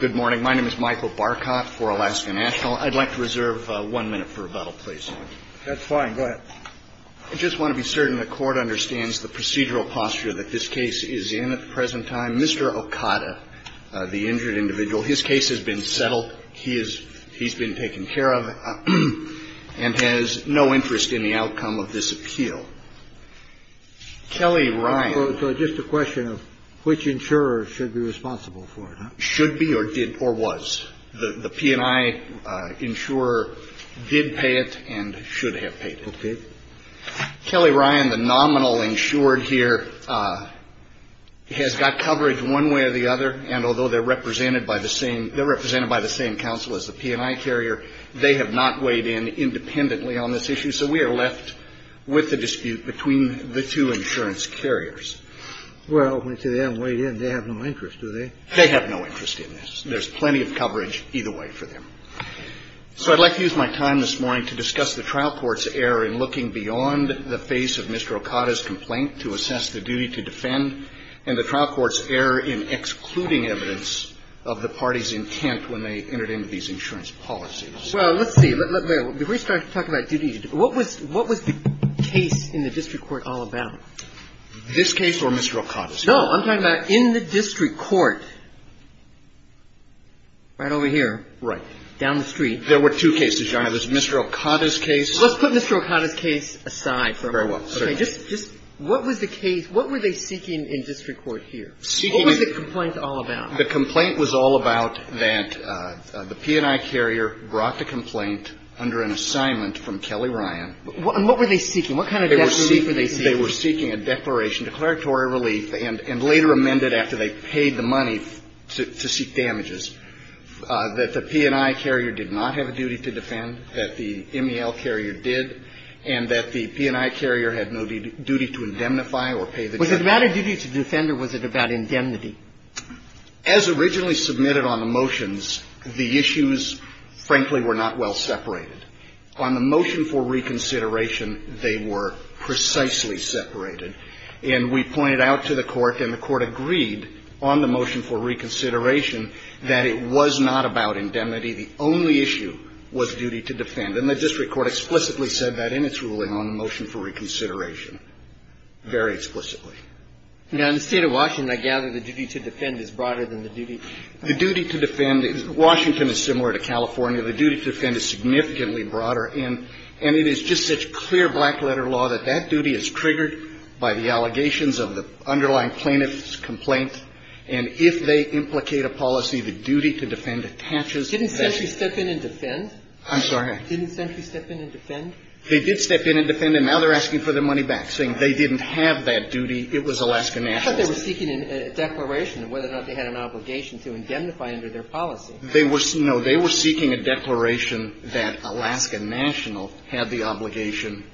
Good morning. My name is Michael Barcott for Alaska National. I'd like to reserve one minute for rebuttal, please. That's fine. Go ahead. I just want to be certain the court understands the procedural posture that this case is in at the present time. Mr. Okada, the injured individual, his case has been settled. He is he's been taken care of and has no interest in the outcome of this appeal. Kelly, right. So just a question of which insurer should be responsible for it should be or did or was the P&I insurer did pay it and should have paid. Kelly Ryan, the nominal insured here, has got coverage one way or the other. And although they're represented by the same they're represented by the same counsel as the P&I carrier, they have not weighed in independently on this issue. So we are left with the dispute between the two insurance carriers. Well, to them, they have no interest, do they? They have no interest in this. There's plenty of coverage either way for them. So I'd like to use my time this morning to discuss the trial court's error in looking beyond the face of Mr. Okada's complaint to assess the duty to defend and the trial court's error in excluding evidence of the party's intent when they entered into these insurance policies. Well, let's see. Before you start talking about duty, what was the case in the district court all about? This case or Mr. Okada's case? No, I'm talking about in the district court. Right over here. Down the street. There were two cases, Your Honor. There was Mr. Okada's case. Let's put Mr. Okada's case aside for a moment. Very well. Okay. Just what was the case, what were they seeking in district court here? What was the complaint all about? The complaint was all about that the P&I carrier brought the complaint under an assignment from Kelly Ryan. And what were they seeking? What kind of death relief were they seeking? They were seeking a declaration, declaratory relief, and later amended after they paid the money to seek damages, that the P&I carrier did not have a duty to defend, that the MEL carrier did, and that the P&I carrier had no duty to indemnify or pay the debt. Was it about a duty to defend or was it about indemnity? As originally submitted on the motions, the issues, frankly, were not well separated. On the motion for reconsideration, they were precisely separated. And we pointed out to the Court, and the Court agreed on the motion for reconsideration that it was not about indemnity. The only issue was duty to defend. And the district court explicitly said that in its ruling on the motion for reconsideration, very explicitly. Now, in the State of Washington, I gather the duty to defend is broader than the duty to indemnify. The duty to defend is – Washington is similar to California. The duty to defend is significantly broader. And it is just such clear black-letter law that that duty is triggered by the allegations of the underlying plaintiff's complaint. And if they implicate a policy, the duty to defend attaches to that. Didn't Century step in and defend? I'm sorry? Didn't Century step in and defend? They did step in and defend, and now they're asking for their money back, saying they didn't have that duty. It was Alaska National's. I thought they were seeking a declaration of whether or not they had an obligation to indemnify under their policy. They were – no. They were seeking a declaration that Alaska National had the obligation,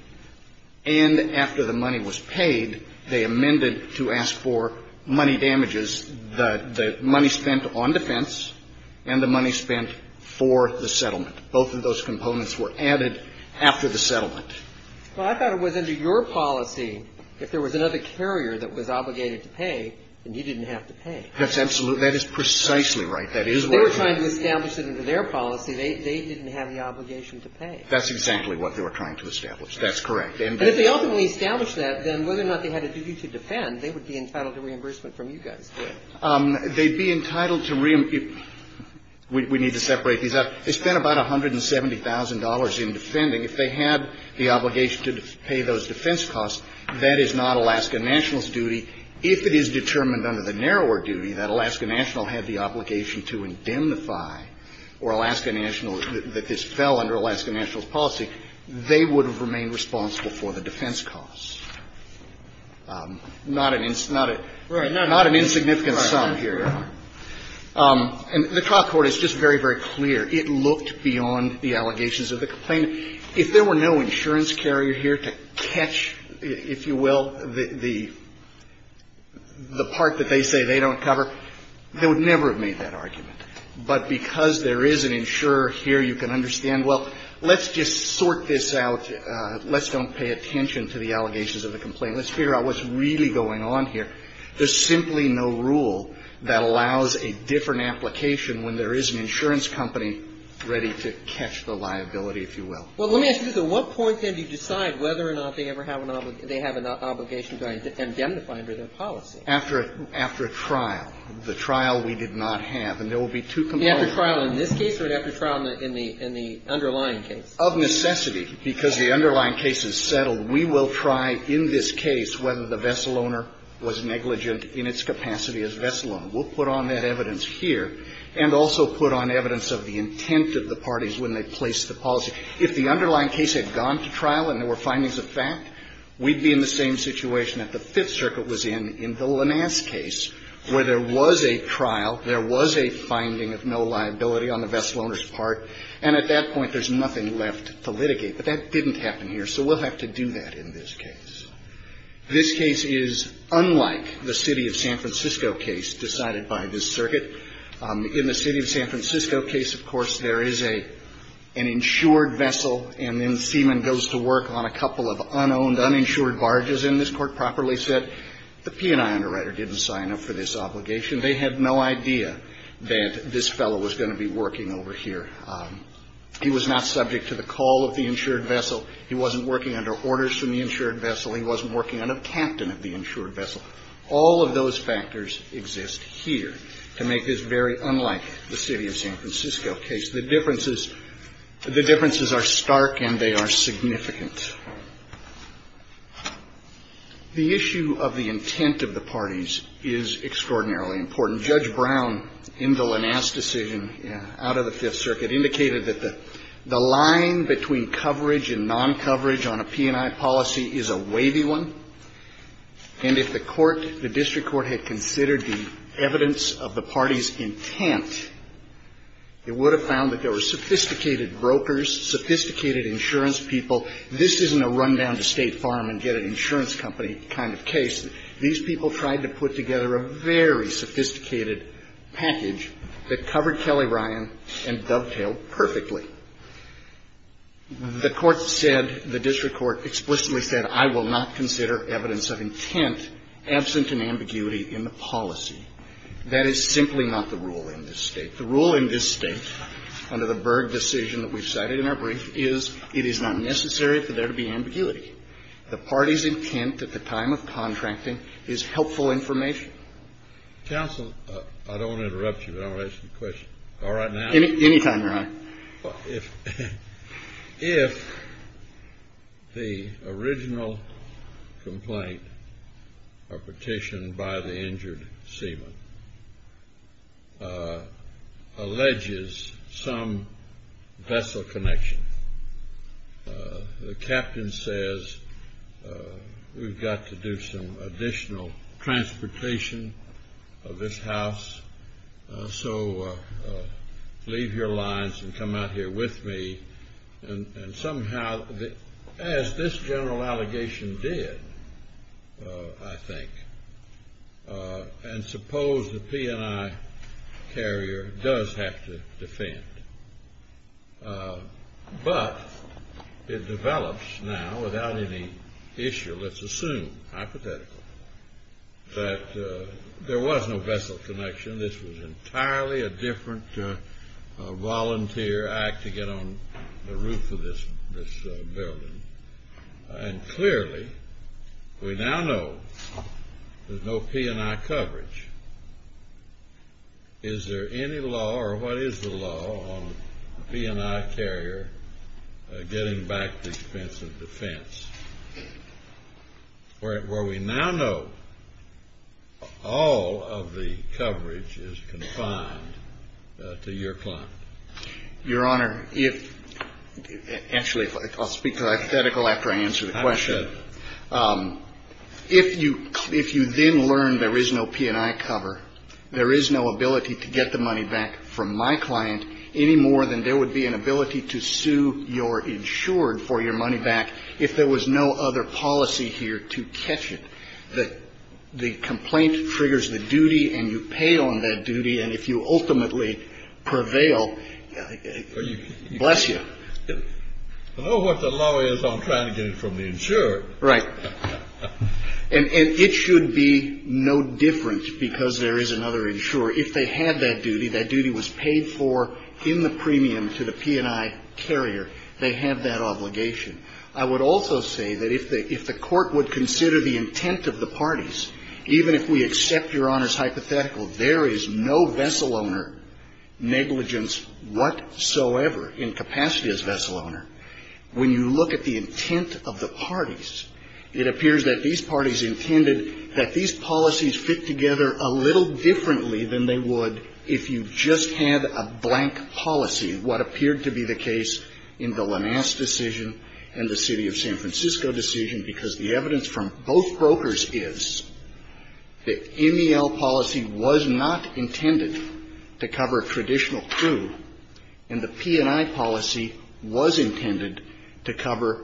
and after the money was paid, they amended to ask for money damages, the money spent on defense and the money spent for the settlement. Both of those components were added after the settlement. Well, I thought it was under your policy if there was another carrier that was obligated to pay, and you didn't have to pay. That's absolutely – that is precisely right. That is right. They were trying to establish it under their policy. They didn't have the obligation to pay. That's exactly what they were trying to establish. That's correct. And if they ultimately established that, then whether or not they had a duty to defend, they would be entitled to reimbursement from you guys. They'd be entitled to – we need to separate these out. They spent about $170,000 in defending. If they had the obligation to pay those defense costs, that is not Alaska National's duty. If it is determined under the narrower duty that Alaska National had the obligation to indemnify or Alaska National – that this fell under Alaska National's policy, they would have remained responsible for the defense costs. Not an – not a – not an insignificant sum here. And the trial court is just very, very clear. It looked beyond the allegations of the complaint. If there were no insurance carrier here to catch, if you will, the – the part that they say they don't cover, they would never have made that argument. But because there is an insurer here, you can understand, well, let's just sort this out. Let's don't pay attention to the allegations of the complaint. Let's figure out what's really going on here. There's simply no rule that allows a different application when there is an insurance company ready to catch the liability, if you will. Well, let me ask you this. At what point, then, do you decide whether or not they ever have an – they have an obligation to indemnify under their policy? After a – after a trial. The trial we did not have. And there will be two components. After trial in this case or after trial in the – in the underlying case? Of necessity, because the underlying case is settled, we will try in this case whether the vessel owner was negligent in its capacity as vessel owner. We'll put on that evidence here and also put on evidence of the intent of the parties when they placed the policy. If the underlying case had gone to trial and there were findings of fact, we'd be in the same situation that the Fifth Circuit was in in the Linas case, where there was a trial, there was a finding of no liability on the vessel owner's part, and at that point there's nothing left to litigate. But that didn't happen here, so we'll have to do that in this case. This case is unlike the City of San Francisco case decided by this circuit. In the City of San Francisco case, of course, there is a – an insured vessel, and then Seaman goes to work on a couple of unowned, uninsured barges, and this Court properly said the P&I underwriter didn't sign up for this obligation. They had no idea that this fellow was going to be working over here. He was not subject to the call of the insured vessel. He wasn't working under orders from the insured vessel. He wasn't working on a captain of the insured vessel. All of those factors exist here to make this very unlike the City of San Francisco case. The differences – the differences are stark and they are significant. The issue of the intent of the parties is extraordinarily important. Judge Brown, in the Linas decision out of the Fifth Circuit, indicated that the line between coverage and non-coverage on a P&I policy is a wavy one, and if the court – the district court had considered the evidence of the party's intent, it would have found that there were sophisticated brokers, sophisticated insurance people. This isn't a run down to State Farm and get an insurance company kind of case. These people tried to put together a very sophisticated package that covered Kelly Ryan and dovetailed perfectly. The court said – the district court explicitly said, I will not consider evidence of intent absent in ambiguity in the policy. That is simply not the rule in this State. The rule in this State, under the Berg decision that we've cited in our brief, is it is not necessary for there to be ambiguity. The party's intent at the time of contracting is helpful information. Counsel, I don't want to interrupt you, but I want to ask you a question. All right, now. Any time, Your Honor. Well, if the original complaint or petition by the injured seaman alleges some vessel connection, the captain says, we've got to do some additional transportation of this here with me, and somehow, as this general allegation did, I think, and suppose the P&I carrier does have to defend, but it develops now without any issue, let's assume, hypothetical, that there was no vessel connection. This was entirely a different volunteer acting on the roof of this building. And clearly, we now know there's no P&I coverage. Is there any law, or what is the law, on the P&I carrier getting back the expense of defense? Where we now know all of the coverage is confined to your client. Your Honor, if, actually, I'll speak to hypothetical after I answer the question. I'm sure. If you then learn there is no P&I cover, there is no ability to get the money back from my no other policy here to catch it. The complaint triggers the duty, and you pay on that duty. And if you ultimately prevail, bless you. I don't know what the law is on trying to get it from the insured. Right. And it should be no different, because there is another insurer. If they had that duty, that duty was paid for in the premium to the P&I carrier. They have that obligation. I would also say that if the Court would consider the intent of the parties, even if we accept your Honor's hypothetical, there is no vessel owner negligence whatsoever in capacity as vessel owner. When you look at the intent of the parties, it appears that these parties intended that these policies fit together a little differently than they would if you just had a blank policy, what appeared to be the case in the Lamas decision and the City of San Francisco decision, because the evidence from both brokers is that MEL policy was not intended to cover traditional crew, and the P&I policy was intended to cover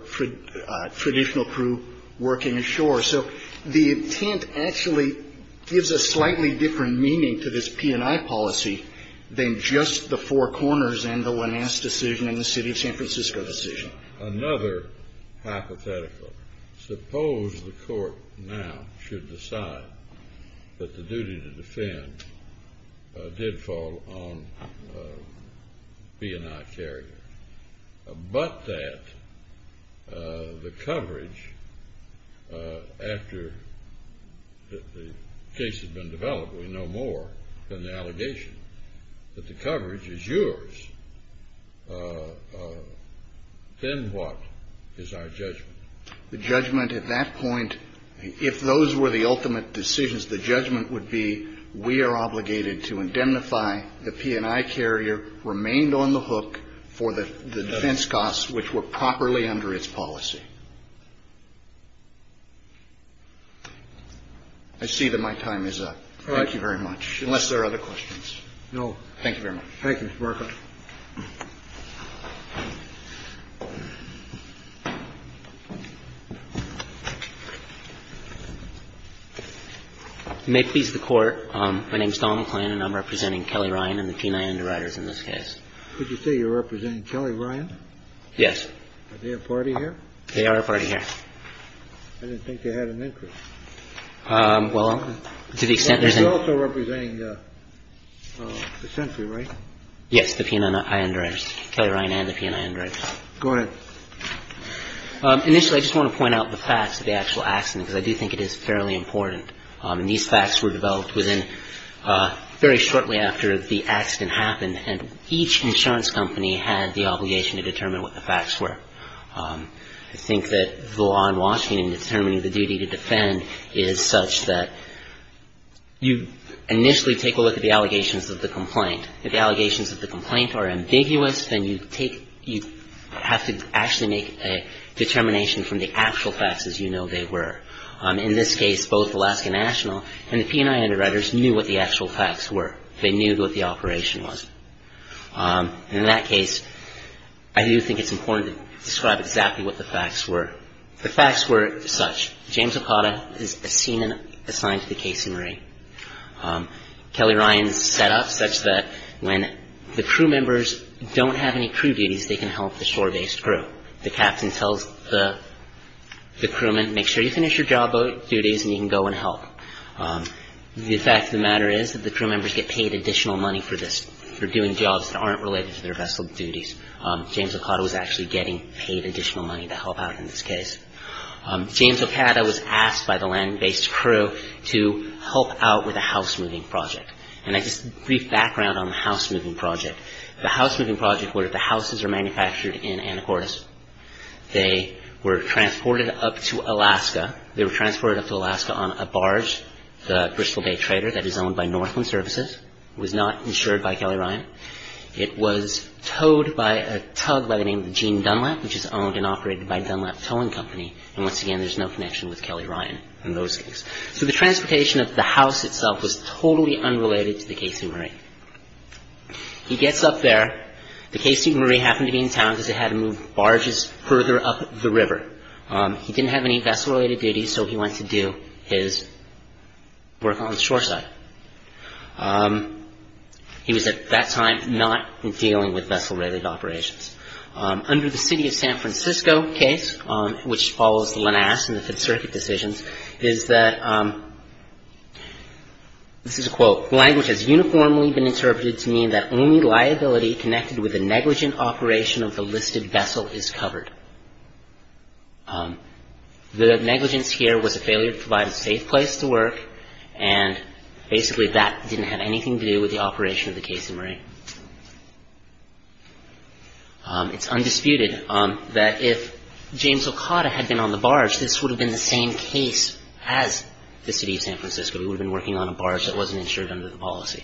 traditional crew working ashore. So the intent actually gives a slightly different meaning to this P&I policy than just the four corners and the Lamas decision and the City of San Francisco decision. Another hypothetical. Suppose the Court now should decide that the duty to defend did fall on P&I carriers, but that the coverage after the case has been developed, we know more than the allegation, that the coverage is yours. Then what is our judgment? The judgment at that point, if those were the ultimate decisions, the judgment would be, we are obligated to indemnify the P&I carrier remained on the hook for the defense costs which were properly under its policy. I see that my time is up. All right. Thank you very much, unless there are other questions. No. Thank you very much. Thank you, Mr. Markoff. My name is Donald McClan and I'm representing Kelly Ryan and the G&I underwriters in this case. Could you say you're representing Kelly Ryan? Yes. Are they a party here? They are a party here. I didn't think they had an interest. Well, to the extent there's a. You're also representing the century, right? So the P&I underwriter's here. The P&I underwriters. Kelly Ryan and the P&I underwriters. Go ahead. Initially, I just want to point out the facts of the actual accident, because I do think it is fairly important. And these facts were developed within very shortly after the accident happened, and each insurance company had the obligation to determine what the facts were. I think that the law in Washington determining the duty to defend is such that you initially take a look at the allegations of the complaint. If the allegations of the complaint are ambiguous, then you take. You have to actually make a determination from the actual facts as you know they were. In this case, both Alaska National and the P&I underwriters knew what the actual facts were. They knew what the operation was. In that case, I do think it's important to describe exactly what the facts were. The facts were such. James Okada is a scene assigned to the case summary. Kelly Ryan is set up such that when the crew members don't have any crew duties, they can help the shore-based crew. The captain tells the crewman, make sure you finish your job duties and you can go and help. The fact of the matter is that the crew members get paid additional money for this, for doing jobs that aren't related to their vessel duties. James Okada was actually getting paid additional money to help out in this case. James Okada was asked by the land-based crew to help out with a house-moving project. I have a brief background on the house-moving project. The house-moving project was that the houses were manufactured in Anacortes. They were transported up to Alaska. They were transported up to Alaska on a barge, the Bristol Bay Trader, that is owned by Northland Services. It was not insured by Kelly Ryan. It was towed by a tug by the name of Gene Dunlap, which is owned and operated by Dunlap Towing Company. And once again, there's no connection with Kelly Ryan in those things. So the transportation of the house itself was totally unrelated to the case summary. He gets up there. The case summary happened to be in town because they had to move barges further up the river. He didn't have any vessel-related duties, so he went to do his work on the shore side. He was, at that time, not dealing with vessel-related operations. Under the City of San Francisco case, which follows Lanasz and the Fifth Circuit decisions, is that, this is a quote, the language has uniformly been interpreted to mean that only liability connected with a negligent operation of the listed vessel is covered. The negligence here was a failure to provide a safe place to work, and basically that didn't have anything to do with the operation of the case summary. It's undisputed that if James Okada had been on the barge, this would have been the same case as the City of San Francisco. We would have been working on a barge that wasn't insured under the policy.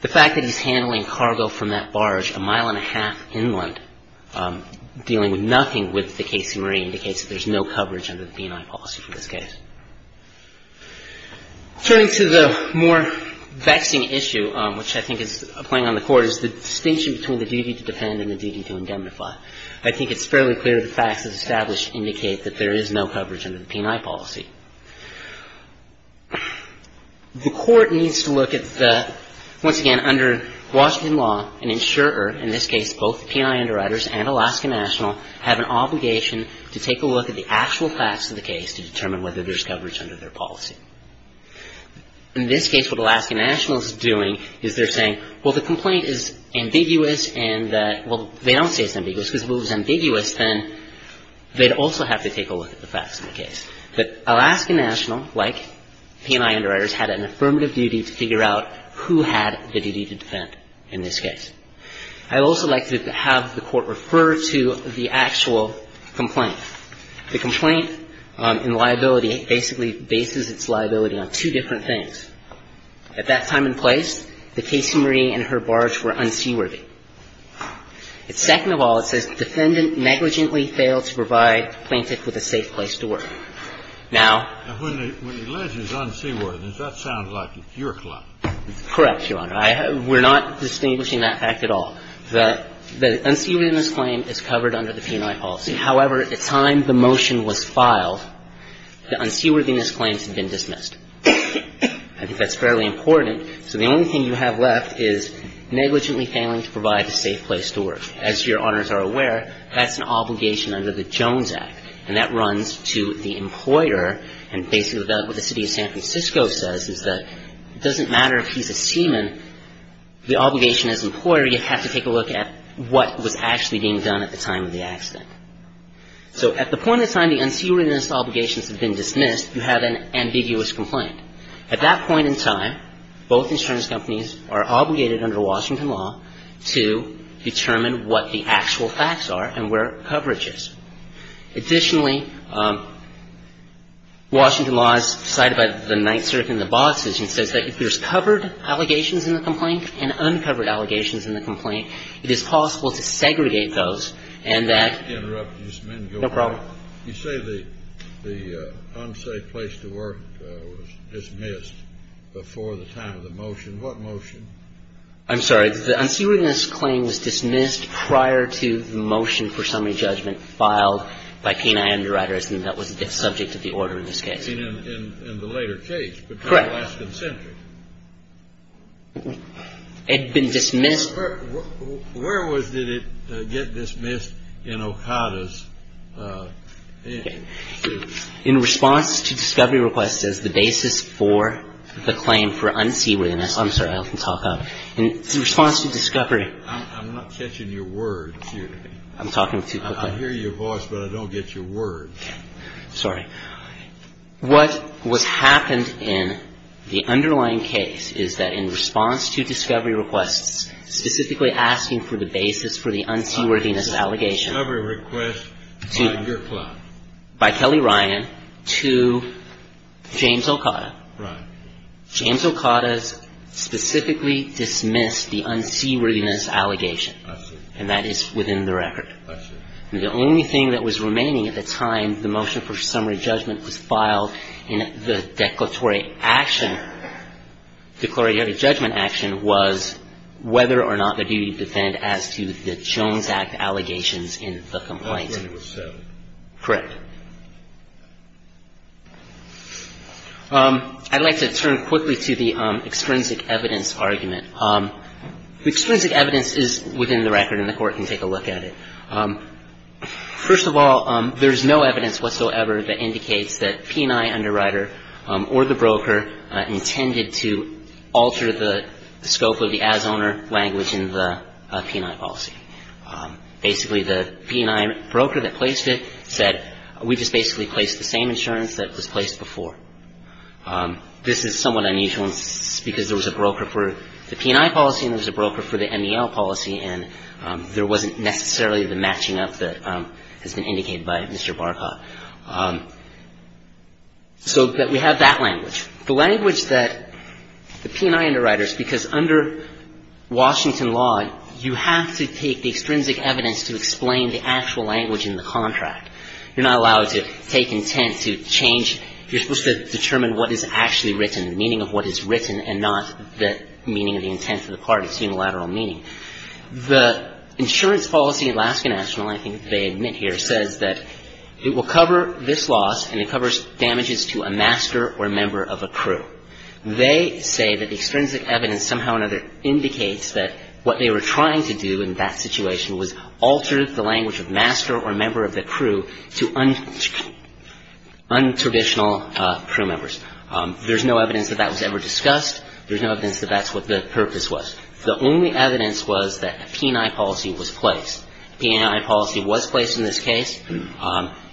The fact that he's handling cargo from that barge a mile and a half inland, dealing with nothing with the case summary, indicates that there's no coverage under the P&I policy for this case. Turning to the more vexing issue, which I think is playing on the Court, is the distinction between the duty to depend and the duty to indemnify. I think it's fairly clear the facts, as established, indicate that there is no coverage under the P&I policy. The Court needs to look at the, once again, under Washington law, an insurer, in this case both P&I underwriters and Alaska National, have an obligation to take a look at the actual facts of the case to determine whether there's coverage under their policy. In this case, what Alaska National is doing is they're saying, well, the complaint is ambiguous and that, well, they don't say it's ambiguous, because if it was ambiguous, then they'd also have to take a look at the facts of the case. But Alaska National, like P&I underwriters, had an affirmative duty to figure out who had the duty to defend in this case. I'd also like to have the Court refer to the actual complaint. The complaint in liability basically bases its liability on two different things. At that time and place, the case summary and her barge were unseaworthy. Second of all, it says the defendant negligently failed to provide the plaintiff with a safe place to work. Now — Kennedy. Now, when it alleges unseaworthiness, that sounds like your claim. Shah. Correct, Your Honor. We're not distinguishing that fact at all. The unseaworthiness claim is covered under the P&I policy. However, at the time the motion was filed, the unseaworthiness claims had been dismissed. I think that's fairly important. So the only thing you have left is negligently failing to provide a safe place to work. As Your Honors are aware, that's an obligation under the Jones Act. And that runs to the employer, and basically that's what the city of San Francisco says, is that it doesn't matter if he's a seaman. The obligation as an employer, you have to take a look at what was actually being done at the time of the accident. So at the point in time the unseaworthiness obligations have been dismissed, you have an ambiguous complaint. At that point in time, both insurance companies are obligated under Washington law to determine what the actual facts are and where coverage is. Additionally, Washington law is cited by the Ninth Circuit in the Boxes, and it says that if there's covered allegations in the complaint and uncovered allegations in the complaint, it is possible to segregate those and that no problem. You say the unsafe place to work was dismissed before the time of the motion. What motion? I'm sorry. The unseaworthiness claim was dismissed prior to the motion for summary judgment filed by Kenai Underwriters, and that was subject to the order in this case. In the later case. Correct. Between last and century. It had been dismissed. Where was it dismissed in Okada's case? In response to discovery requests as the basis for the claim for unseaworthiness. I'm sorry. I can talk up. In response to discovery. I'm not catching your word. I'm talking too quickly. I hear your voice, but I don't get your word. Sorry. What was happened in the underlying case is that in response to discovery requests, specifically asking for the basis for the unseaworthiness allegation. Discovery request by your client. By Kelly Ryan to James Okada. Right. James Okada's specifically dismissed the unseaworthiness allegation. I see. And that is within the record. I see. The only thing that was remaining at the time, the motion for summary judgment was filed in the declaratory action. Declaratory judgment action was whether or not the duty to defend as to the Jones Act allegations in the complaint. Correct. I'd like to turn quickly to the extrinsic evidence argument. Extrinsic evidence is within the record, and the court can take a look at it. First of all, there is no evidence whatsoever that indicates that P&I underwriter or the broker intended to alter the scope of the as-owner language in the P&I policy. Basically, the P&I broker that placed it said, we just basically placed the same insurance that was placed before. This is somewhat unusual because there was a broker for the P&I policy and there was a broker for the MEL policy, and there wasn't necessarily the matching up that has been indicated by Mr. Barkoff. So we have that language. The language that the P&I underwriters, because under Washington law, you have to take the extrinsic evidence to explain the actual language in the contract. You're not allowed to take intent to change. You're supposed to determine what is actually written, the meaning of what is written, and not the meaning of the intent of the part. It's unilateral meaning. The insurance policy, Alaska National, I think they admit here, says that it will cover this loss and it covers damages to a master or member of a crew. They say that the extrinsic evidence somehow or another indicates that what they were trying to do in that situation was alter the language of master or member of the crew to untraditional crew members. There's no evidence that that was ever discussed. There's no evidence that that's what the purpose was. The only evidence was that the P&I policy was placed. The P&I policy was placed in this case.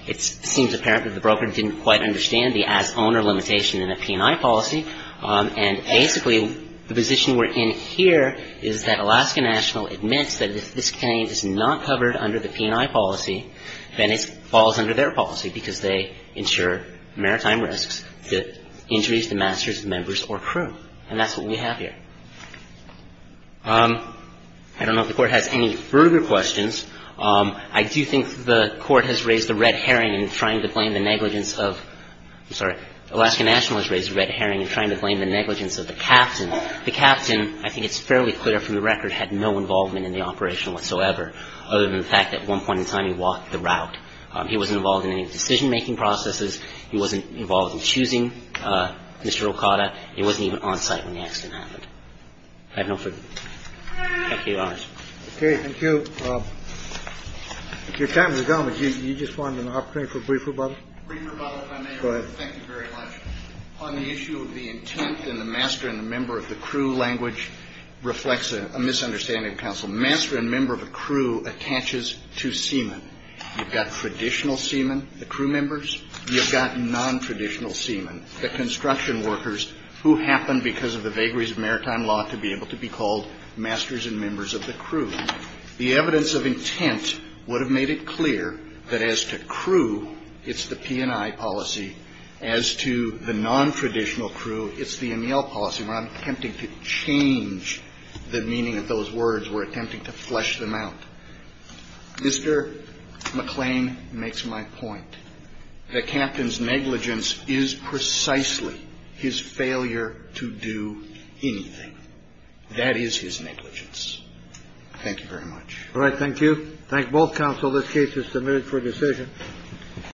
It seems apparent that the broker didn't quite understand the as-owner limitation in the P&I policy. And basically, the position we're in here is that Alaska National admits that if this claim is not covered under the P&I policy, then it falls under their policy because they insure maritime risks to injuries to masters, members, or crew. And that's what we have here. I don't know if the Court has any further questions. I do think the Court has raised the red herring in trying to blame the negligence of the captain. The captain, I think it's fairly clear from the record, had no involvement in the operation whatsoever other than the fact that at one point in time he walked the route. He wasn't involved in any decision-making processes. He wasn't involved in choosing Mr. Okada. He wasn't even on site when the accident happened. I have no further questions. Okay, thank you. Your time is up. You just wanted an opportunity for a brief rebuttal? Brief rebuttal, if I may. Go ahead. Thank you very much. On the issue of the intent and the master and the member of the crew language reflects a misunderstanding of counsel. Master and member of a crew attaches to seamen. You've got traditional seamen, the crew members. You've got nontraditional seamen, the construction workers who happened because of the vagaries of maritime law to be able to be called masters and members of the crew. The evidence of intent would have made it clear that as to crew, it's the P&I policy. As to the nontraditional crew, it's the EMEAL policy. I'm attempting to change the meaning of those words. We're attempting to flesh them out. Mr. McClain makes my point that Captain's negligence is precisely his failure to do anything. That is his negligence. Thank you very much. All right, thank you. Thank both counsel. This case is submitted for decision.